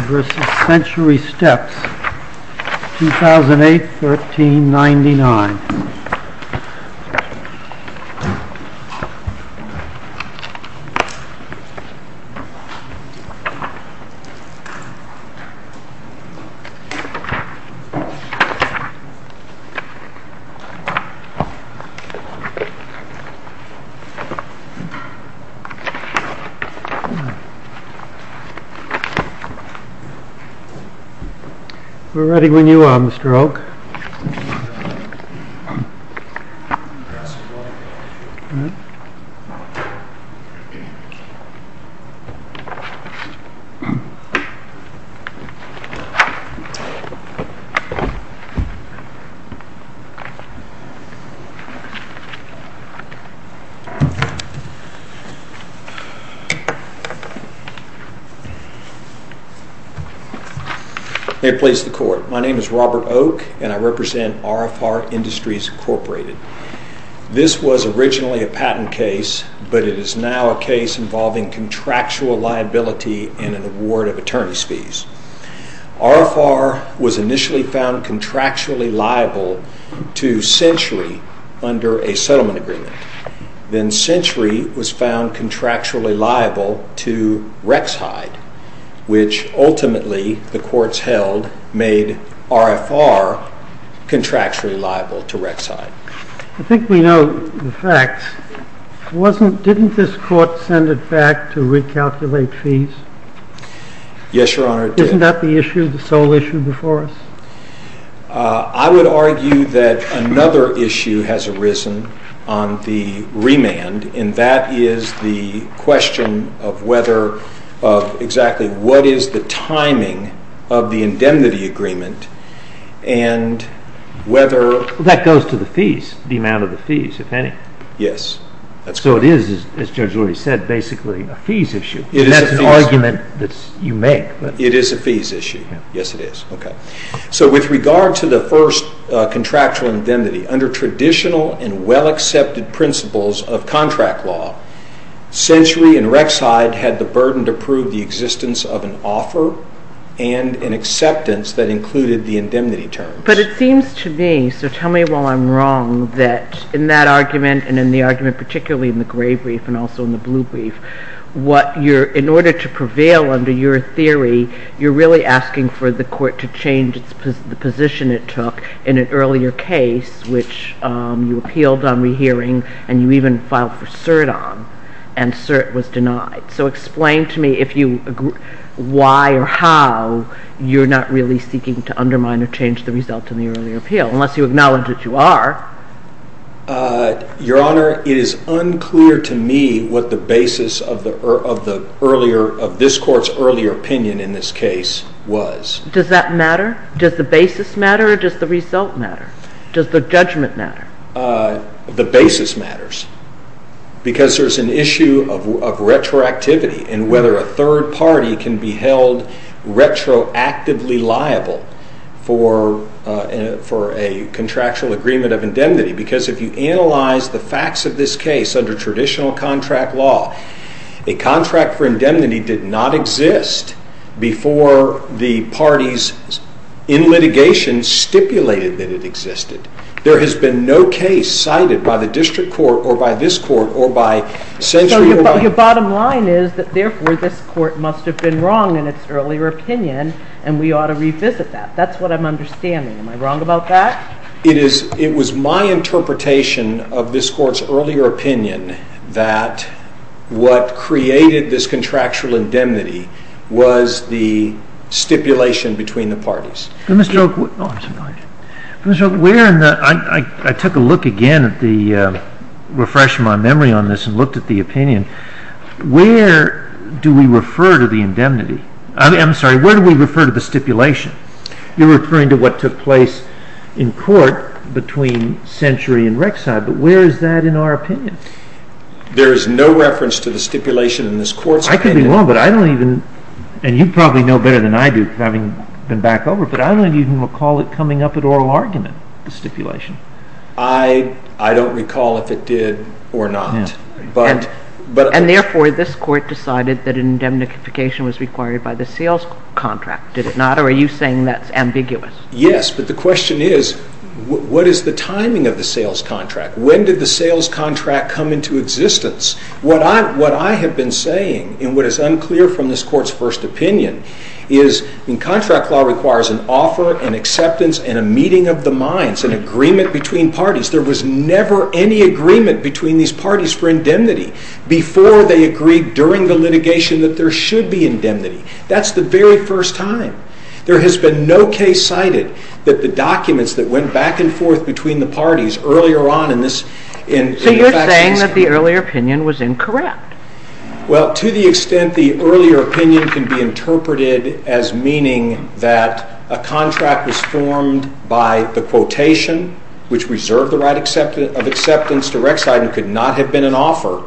v. Century Steps 2008-1399 We're ready when you are Mr. Oake. May it please the court. My name is Robert Oake and I represent RFR Industries, Inc. This was originally a patent case, but it is now a case involving contractual liability and an award of attorney's fees. RFR was initially found contractually liable to Century under a settlement agreement. Then Century was found contractually liable to Rex-Hide, which ultimately the courts held made RFR contractually liable to Rex-Hide. I think we know the facts. Didn't this court send it back to recalculate fees? Yes, Your Honor, it did. Isn't that the issue, the sole issue before us? I would argue that another issue has arisen on the remand, and that is the question of whether, of exactly what is the timing of the indemnity agreement and whether That goes to the fees, the amount of the fees, if any. Yes. So it is, as Judge Rory said, basically a fees issue. That's an argument that you make. It is a fees issue. Yes, it is. Okay. So with regard to the first contractual indemnity, under traditional and well-accepted principles of contract law, Century and Rex-Hide had the burden to prove the existence of an offer and an acceptance that included the indemnity terms. But it seems to me, so tell me while I'm wrong, that in that argument and in the argument particularly in the gray brief and also in the blue brief, what you're, in order to prevail under your theory, you're really asking for the court to change the position it took in an earlier case, which you appealed on rehearing and you even filed for cert on, and cert was denied. So explain to me if you, why or how you're not really seeking to undermine or change the result in the earlier appeal, unless you acknowledge that you are. Your Honor, it is unclear to me what the basis of the earlier, of this court's earlier opinion in this case was. Does that matter? Does the basis matter or does the result matter? Does the judgment matter? The basis matters. Because there's an issue of retroactivity and whether a third party can be held retroactively liable for a contractual agreement of indemnity. Because if you analyze the facts of this case under traditional contract law, a contract for indemnity did not exist before the parties in litigation stipulated that it existed. There has been no case cited by the district court or by this court or by So your bottom line is that therefore this court must have been wrong in its earlier opinion and we ought to revisit that. That's what I'm understanding. Am I wrong about that? It is, it was my interpretation of this court's earlier opinion that what created this contractual indemnity I took a look again at the refresh of my memory on this and looked at the opinion. Where do we refer to the indemnity? I'm sorry, where do we refer to the stipulation? You're referring to what took place in court between Century and Rexide, but where is that in our opinion? There is no reference to the stipulation in this court's opinion. You probably know better than I do, having been back over, but I don't even recall it coming up at oral argument, the stipulation. I don't recall if it did or not. And therefore this court decided that indemnification was required by the sales contract, did it not? Or are you saying that's ambiguous? Yes, but the question is, what is the timing of the sales contract? When did the sales contract come into existence? What I have been saying, and what is unclear from this court's first opinion, is contract law requires an offer, an acceptance, and a meeting of the minds, an agreement between parties. There was never any agreement between these parties for indemnity before they agreed during the litigation that there should be indemnity. That's the very first time. There has been no case cited that the documents that went back and forth between the parties earlier on in this... So you're saying that the earlier opinion was incorrect? Well, to the extent the earlier opinion can be interpreted as meaning that a contract was formed by the quotation, which reserved the right of acceptance to Rexide and could not have been an offer,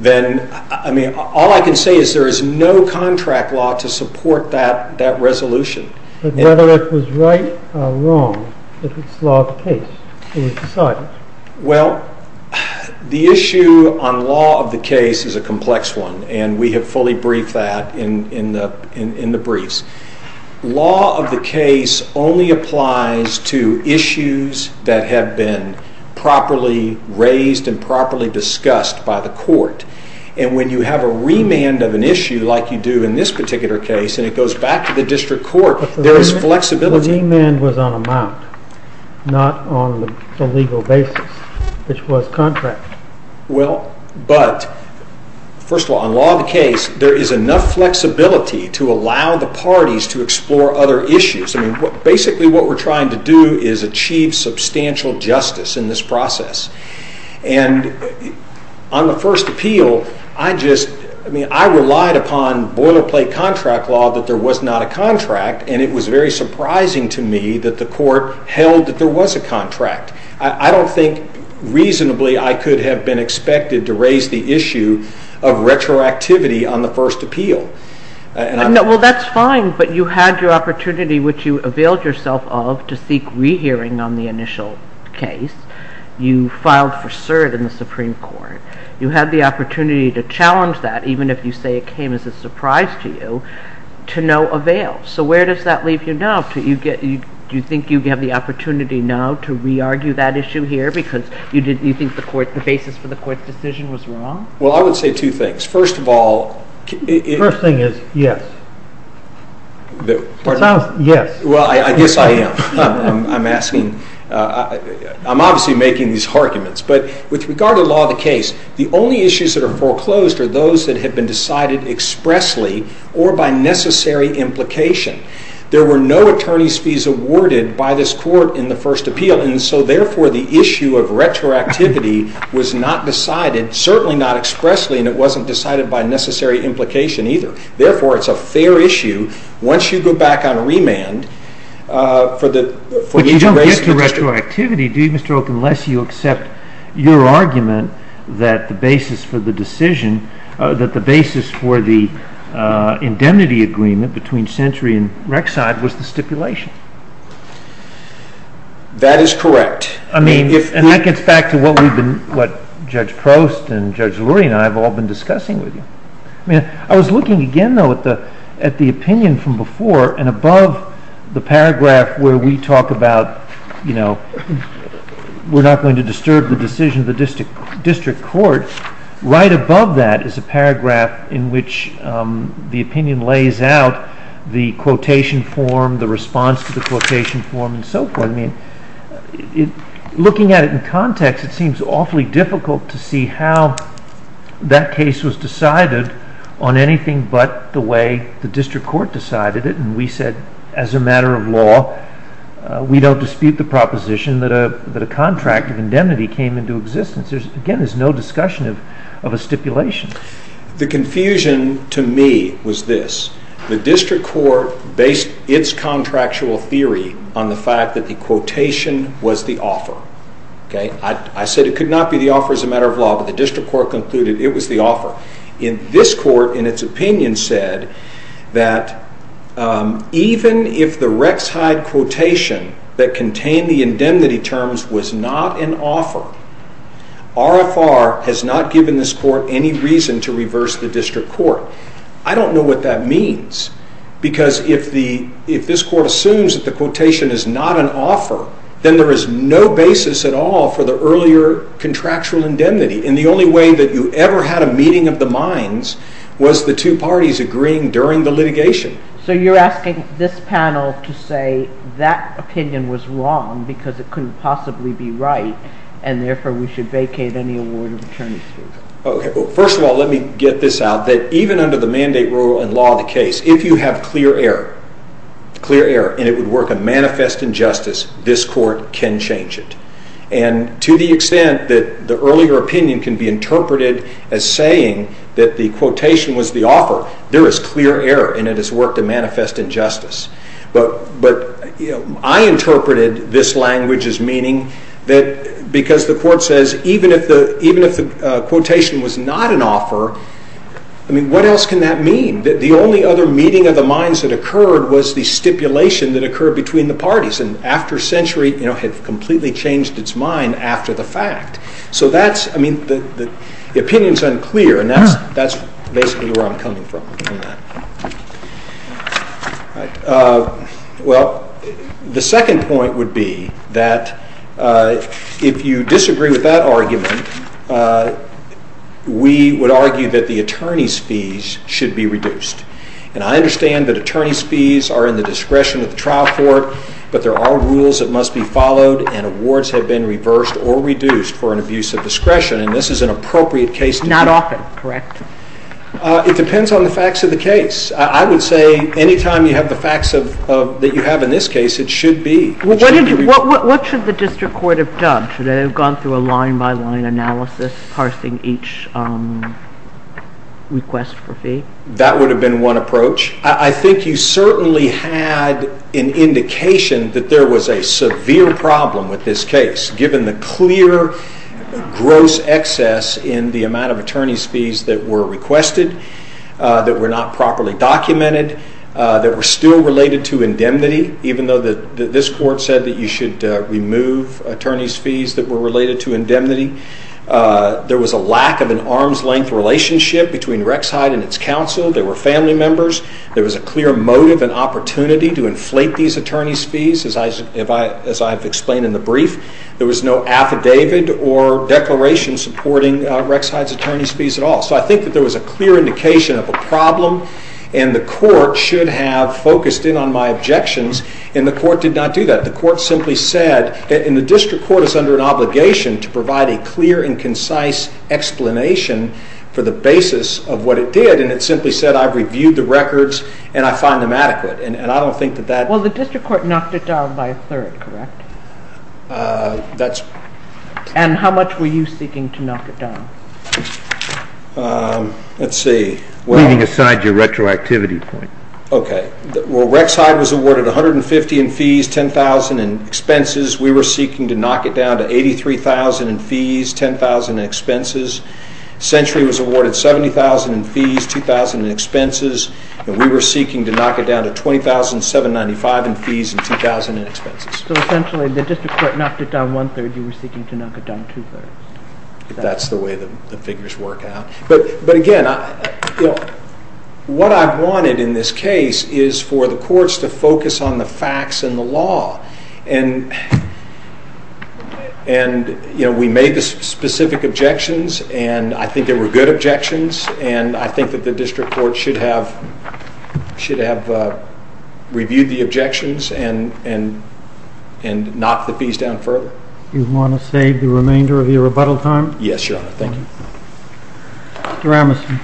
then, I mean, all I can say is there is no contract law to support that resolution. But whether it was right or wrong, if it's law of the case, it was decided. Well, the issue on law of the case is a complex one, and we have fully briefed that in the briefs. Law of the case only applies to issues that have been properly raised and properly discussed by the court. And when you have a remand of an issue, like you do in this particular case, and it goes back to the district court, there is flexibility. But the remand was on amount, not on the legal basis, which was contract. Well, but, first of all, on law of the case, there is enough flexibility to allow the parties to explore other issues. I mean, basically what we're trying to do is achieve substantial justice in this process. And on the first appeal, I relied upon boilerplate contract law that there was not a contract, and it was very surprising to me that the court held that there was a contract. I don't think reasonably I could have been expected to raise the issue of retroactivity on the first appeal. Well, that's fine, but you had your opportunity, which you availed yourself of, to seek rehearing on the initial case. You filed for cert in the Supreme Court. You had the opportunity to challenge that, even if you say it came as a surprise to you, to no avail. So where does that leave you now? Do you think you have the opportunity now to re-argue that issue here because you think the basis for the court's decision was wrong? Well, I would say two things. First of all, it— The first thing is yes. It sounds—yes. Well, I guess I am. I'm asking—I'm obviously making these arguments. But with regard to law of the case, the only issues that are foreclosed are those that have been decided expressly or by necessary implication. There were no attorney's fees awarded by this court in the first appeal, and so therefore the issue of retroactivity was not decided, certainly not expressly, and it wasn't decided by necessary implication either. Therefore, it's a fair issue. Once you go back on remand for the— But you don't get to retroactivity, do you, Mr. Oak, unless you accept your argument that the basis for the decision— That is correct. I mean, and that gets back to what we've been—what Judge Prost and Judge Lurie and I have all been discussing with you. I mean, I was looking again, though, at the opinion from before, and above the paragraph where we talk about, you know, we're not going to disturb the decision of the district court, right above that is a paragraph in which the opinion lays out the quotation form, the response to the quotation form, and so forth. I mean, looking at it in context, it seems awfully difficult to see how that case was decided on anything but the way the district court decided it, and we said, as a matter of law, we don't dispute the proposition that a contract of indemnity came into existence. Again, there's no discussion of a stipulation. The confusion to me was this. The district court based its contractual theory on the fact that the quotation was the offer. I said it could not be the offer as a matter of law, but the district court concluded it was the offer. This court, in its opinion, said that even if the Rex Hyde quotation that contained the indemnity terms was not an offer, RFR has not given this court any reason to reverse the district court. I don't know what that means, because if this court assumes that the quotation is not an offer, then there is no basis at all for the earlier contractual indemnity, and the only way that you ever had a meeting of the minds was the two parties agreeing during the litigation. So you're asking this panel to say that opinion was wrong because it couldn't possibly be right, and therefore we should vacate any award of attorney's fees. First of all, let me get this out, that even under the mandate rule and law of the case, if you have clear error, and it would work a manifest injustice, this court can change it. And to the extent that the earlier opinion can be interpreted as saying that the quotation was the offer, there is clear error, and it has worked a manifest injustice. But I interpreted this language as meaning that because the court says even if the quotation was not an offer, what else can that mean? The only other meeting of the minds that occurred was the stipulation that occurred between the parties, and after a century had completely changed its mind after the fact. So that's, I mean, the opinion is unclear, and that's basically where I'm coming from. Well, the second point would be that if you disagree with that argument, we would argue that the attorney's fees should be reduced. And I understand that attorney's fees are in the discretion of the trial court, but there are rules that must be followed, and awards have been reversed or reduced for an abuse of discretion, and this is an appropriate case. Not often, correct? It depends on the facts of the case. I would say any time you have the facts that you have in this case, it should be. What should the district court have done? Should they have gone through a line-by-line analysis, parsing each request for fee? That would have been one approach. I think you certainly had an indication that there was a severe problem with this case, given the clear gross excess in the amount of attorney's fees that were requested, that were not properly documented, that were still related to indemnity, even though this court said that you should remove attorney's fees that were related to indemnity. There was a lack of an arm's-length relationship between Rexhaid and its counsel. They were family members. There was a clear motive and opportunity to inflate these attorney's fees, as I've explained in the brief. There was no affidavit or declaration supporting Rexhaid's attorney's fees at all. So I think that there was a clear indication of a problem, and the court should have focused in on my objections, and the court did not do that. The court simply said, and the district court is under an obligation to provide a clear and concise explanation for the basis of what it did, and it simply said, I've reviewed the records and I find them adequate. And I don't think that that… Well, the district court knocked it down by a third, correct? That's… And how much were you seeking to knock it down? Let's see. Leaving aside your retroactivity point. Okay. Well, Rexhaid was awarded $150,000 in fees, $10,000 in expenses. We were seeking to knock it down to $83,000 in fees, $10,000 in expenses. Century was awarded $70,000 in fees, $2,000 in expenses, and we were seeking to knock it down to $20,795 in fees and $2,000 in expenses. So essentially the district court knocked it down one third, you were seeking to knock it down two thirds. That's the way the figures work out. But again, what I wanted in this case is for the courts to focus on the facts and the law. And, you know, we made the specific objections and I think they were good objections and I think that the district court should have reviewed the objections and knocked the fees down further. Do you want to save the remainder of your rebuttal time? Yes, Your Honor. Thank you. Mr. Emerson.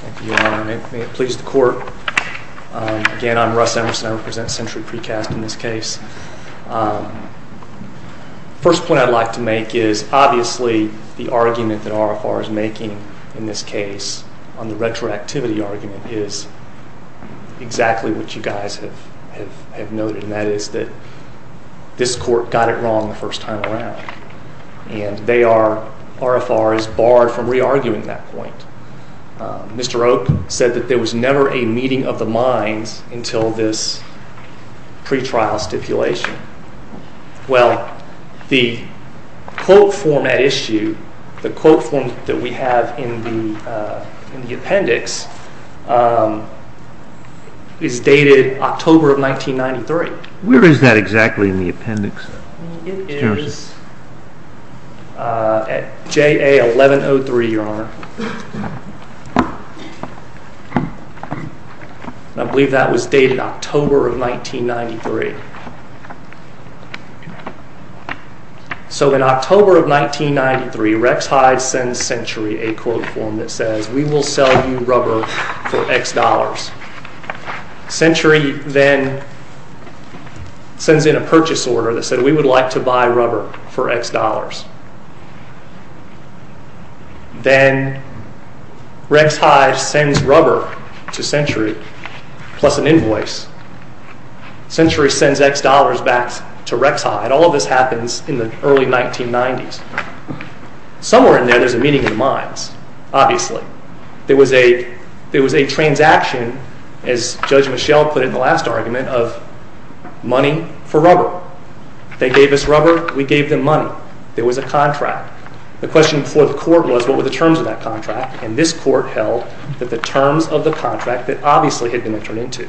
Thank you, Your Honor. May it please the court. Again, I'm Russ Emerson. I represent Century Precast in this case. The first point I'd like to make is obviously the argument that RFR is making in this case, on the retroactivity argument, is exactly what you guys have noted, and that is that this court got it wrong the first time around. And they are, RFR is barred from re-arguing that point. Mr. Oak said that there was never a meeting of the minds until this pre-trial stipulation. Well, the quote form at issue, the quote form that we have in the appendix, is dated October of 1993. Where is that exactly in the appendix? It is at JA1103, Your Honor. I believe that was dated October of 1993. So in October of 1993, Rex Hyde sends Century a quote form that says, We will sell you rubber for X dollars. Century then sends in a purchase order that said, We would like to buy rubber for X dollars. Then Rex Hyde sends rubber to Century, plus an invoice. Century sends X dollars back to Rex Hyde. All of this happens in the early 1990s. Somewhere in there, there is a meeting of the minds, obviously. There was a transaction, as Judge Michel put it in the last argument, of money for rubber. They gave us rubber, we gave them money. There was a contract. The question before the court was, what were the terms of that contract? And this court held that the terms of the contract that obviously had been entered into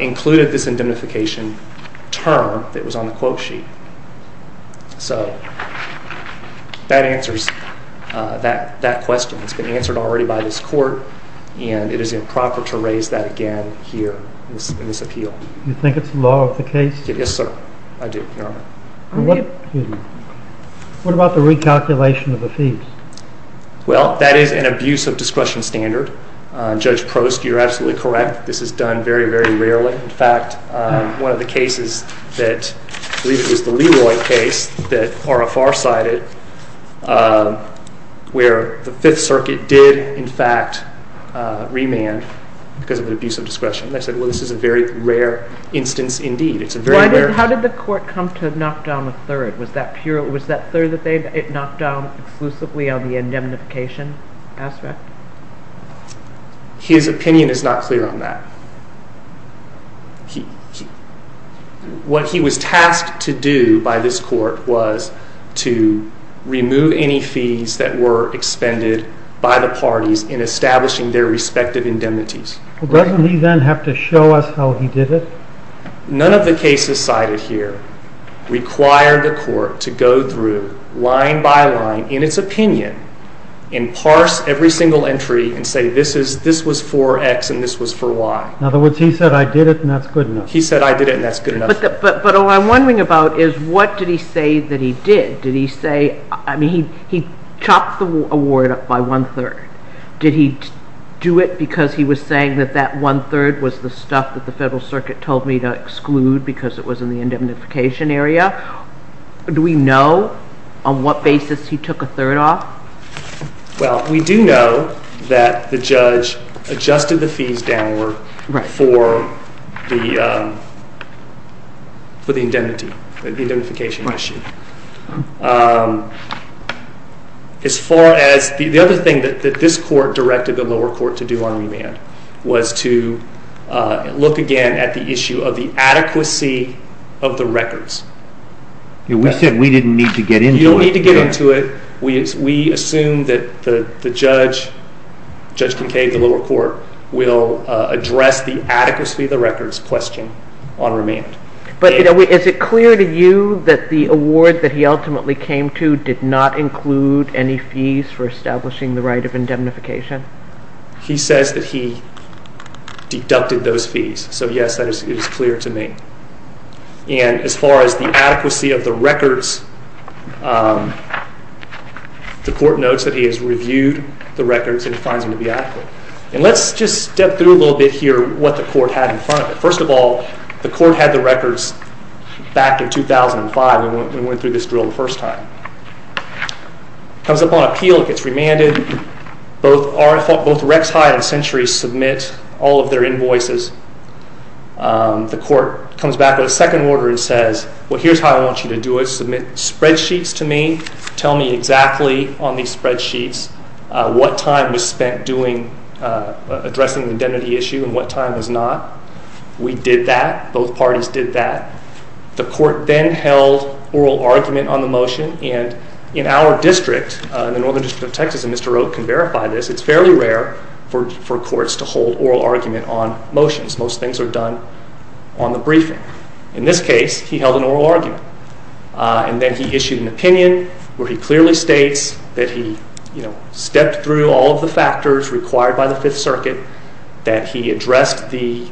included this indemnification term that was on the quote sheet. So that answers that question. It's been answered already by this court, and it is improper to raise that again here in this appeal. Do you think it's the law of the case? Yes, sir. I do, Your Honor. What about the recalculation of the fees? Well, that is an abuse of discretion standard. Judge Prost, you're absolutely correct. This is done very, very rarely. In fact, one of the cases that, I believe it was the Leroy case that RFR cited, where the Fifth Circuit did, in fact, remand because of an abuse of discretion. They said, well, this is a very rare instance indeed. How did the court come to knock down a third? Was that third that they knocked down exclusively on the indemnification aspect? His opinion is not clear on that. What he was tasked to do by this court was to remove any fees that were expended by the parties in establishing their respective indemnities. Doesn't he then have to show us how he did it? None of the cases cited here require the court to go through line by line in its opinion and parse every single entry and say this was for X and this was for Y. In other words, he said I did it and that's good enough. He said I did it and that's good enough. But all I'm wondering about is what did he say that he did? Did he say, I mean, he chopped the award up by one-third. Did he do it because he was saying that that one-third was the stuff that the Federal Circuit told me to exclude because it was in the indemnification area? Do we know on what basis he took a third off? Well, we do know that the judge adjusted the fees downward for the indemnity, the indemnification issue. As far as the other thing that this court directed the lower court to do on remand was to look again at the issue of the adequacy of the records. We said we didn't need to get into it. You don't need to get into it. We assume that the judge, Judge Kincaid of the lower court, will address the adequacy of the records question on remand. But is it clear to you that the award that he ultimately came to did not include any fees for establishing the right of indemnification? He says that he deducted those fees. So, yes, that is clear to me. And as far as the adequacy of the records, the court notes that he has reviewed the records and finds them to be adequate. And let's just step through a little bit here what the court had in front of it. First of all, the court had the records back in 2005 when we went through this drill the first time. It comes up on appeal. It gets remanded. Both Rex High and Century submit all of their invoices. The court comes back with a second order and says, well, here's how I want you to do it. Submit spreadsheets to me. Tell me exactly on these spreadsheets what time was spent addressing the indemnity issue and what time was not. We did that. Both parties did that. The court then held oral argument on the motion. And in our district, the Northern District of Texas, and Mr. Roque can verify this, it's fairly rare for courts to hold oral argument on motions. Most things are done on the briefing. In this case, he held an oral argument. And then he issued an opinion where he clearly states that he stepped through all of the factors required by the Fifth Circuit, that he addressed the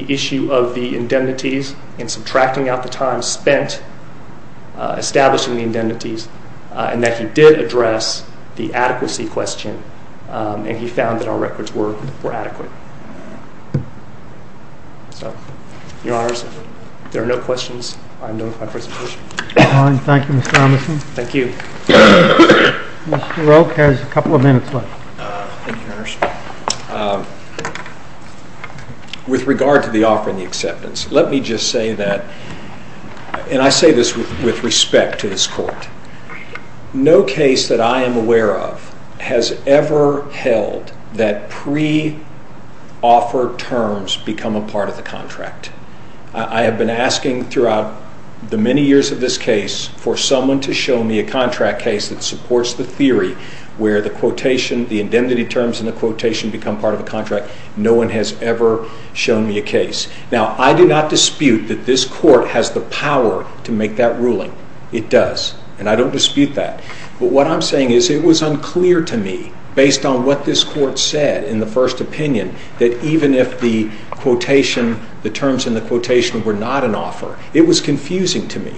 issue of the indemnities and subtracting out the time spent establishing the indemnities, and that he did address the adequacy question and he found that our records were adequate. So, Your Honors, if there are no questions, I am done with my presentation. Fine. Thank you, Mr. Omerson. Thank you. Mr. Roque has a couple of minutes left. Thank you, Your Honors. With regard to the offer and the acceptance, let me just say that, and I say this with respect to this court, no case that I am aware of has ever held that pre-offer terms become a part of the contract. I have been asking throughout the many years of this case for someone to show me a contract case that supports the theory where the quotation, the indemnity terms in the quotation become part of the contract. No one has ever shown me a case. Now, I do not dispute that this court has the power to make that ruling. It does, and I don't dispute that. But what I'm saying is it was unclear to me, based on what this court said in the first opinion, that even if the quotation, the terms in the quotation were not an offer, it was confusing to me.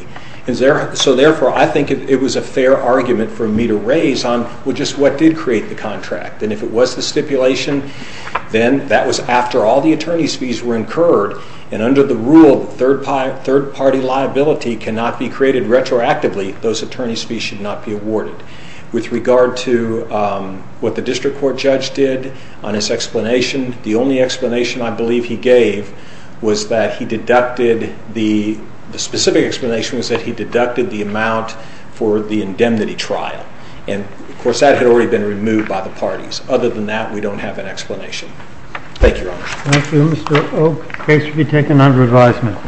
So therefore, I think it was a fair argument for me to raise on just what did create the contract. And if it was the stipulation, then that was after all the attorney's fees were incurred, and under the rule that third-party liability cannot be created retroactively, those attorney's fees should not be awarded. With regard to what the district court judge did on his explanation, the only explanation I believe he gave was that he deducted, and the specific explanation was that he deducted the amount for the indemnity trial. And, of course, that had already been removed by the parties. Other than that, we don't have an explanation. Thank you, Your Honor. Thank you, Mr. Oak. The case will be taken under advisement.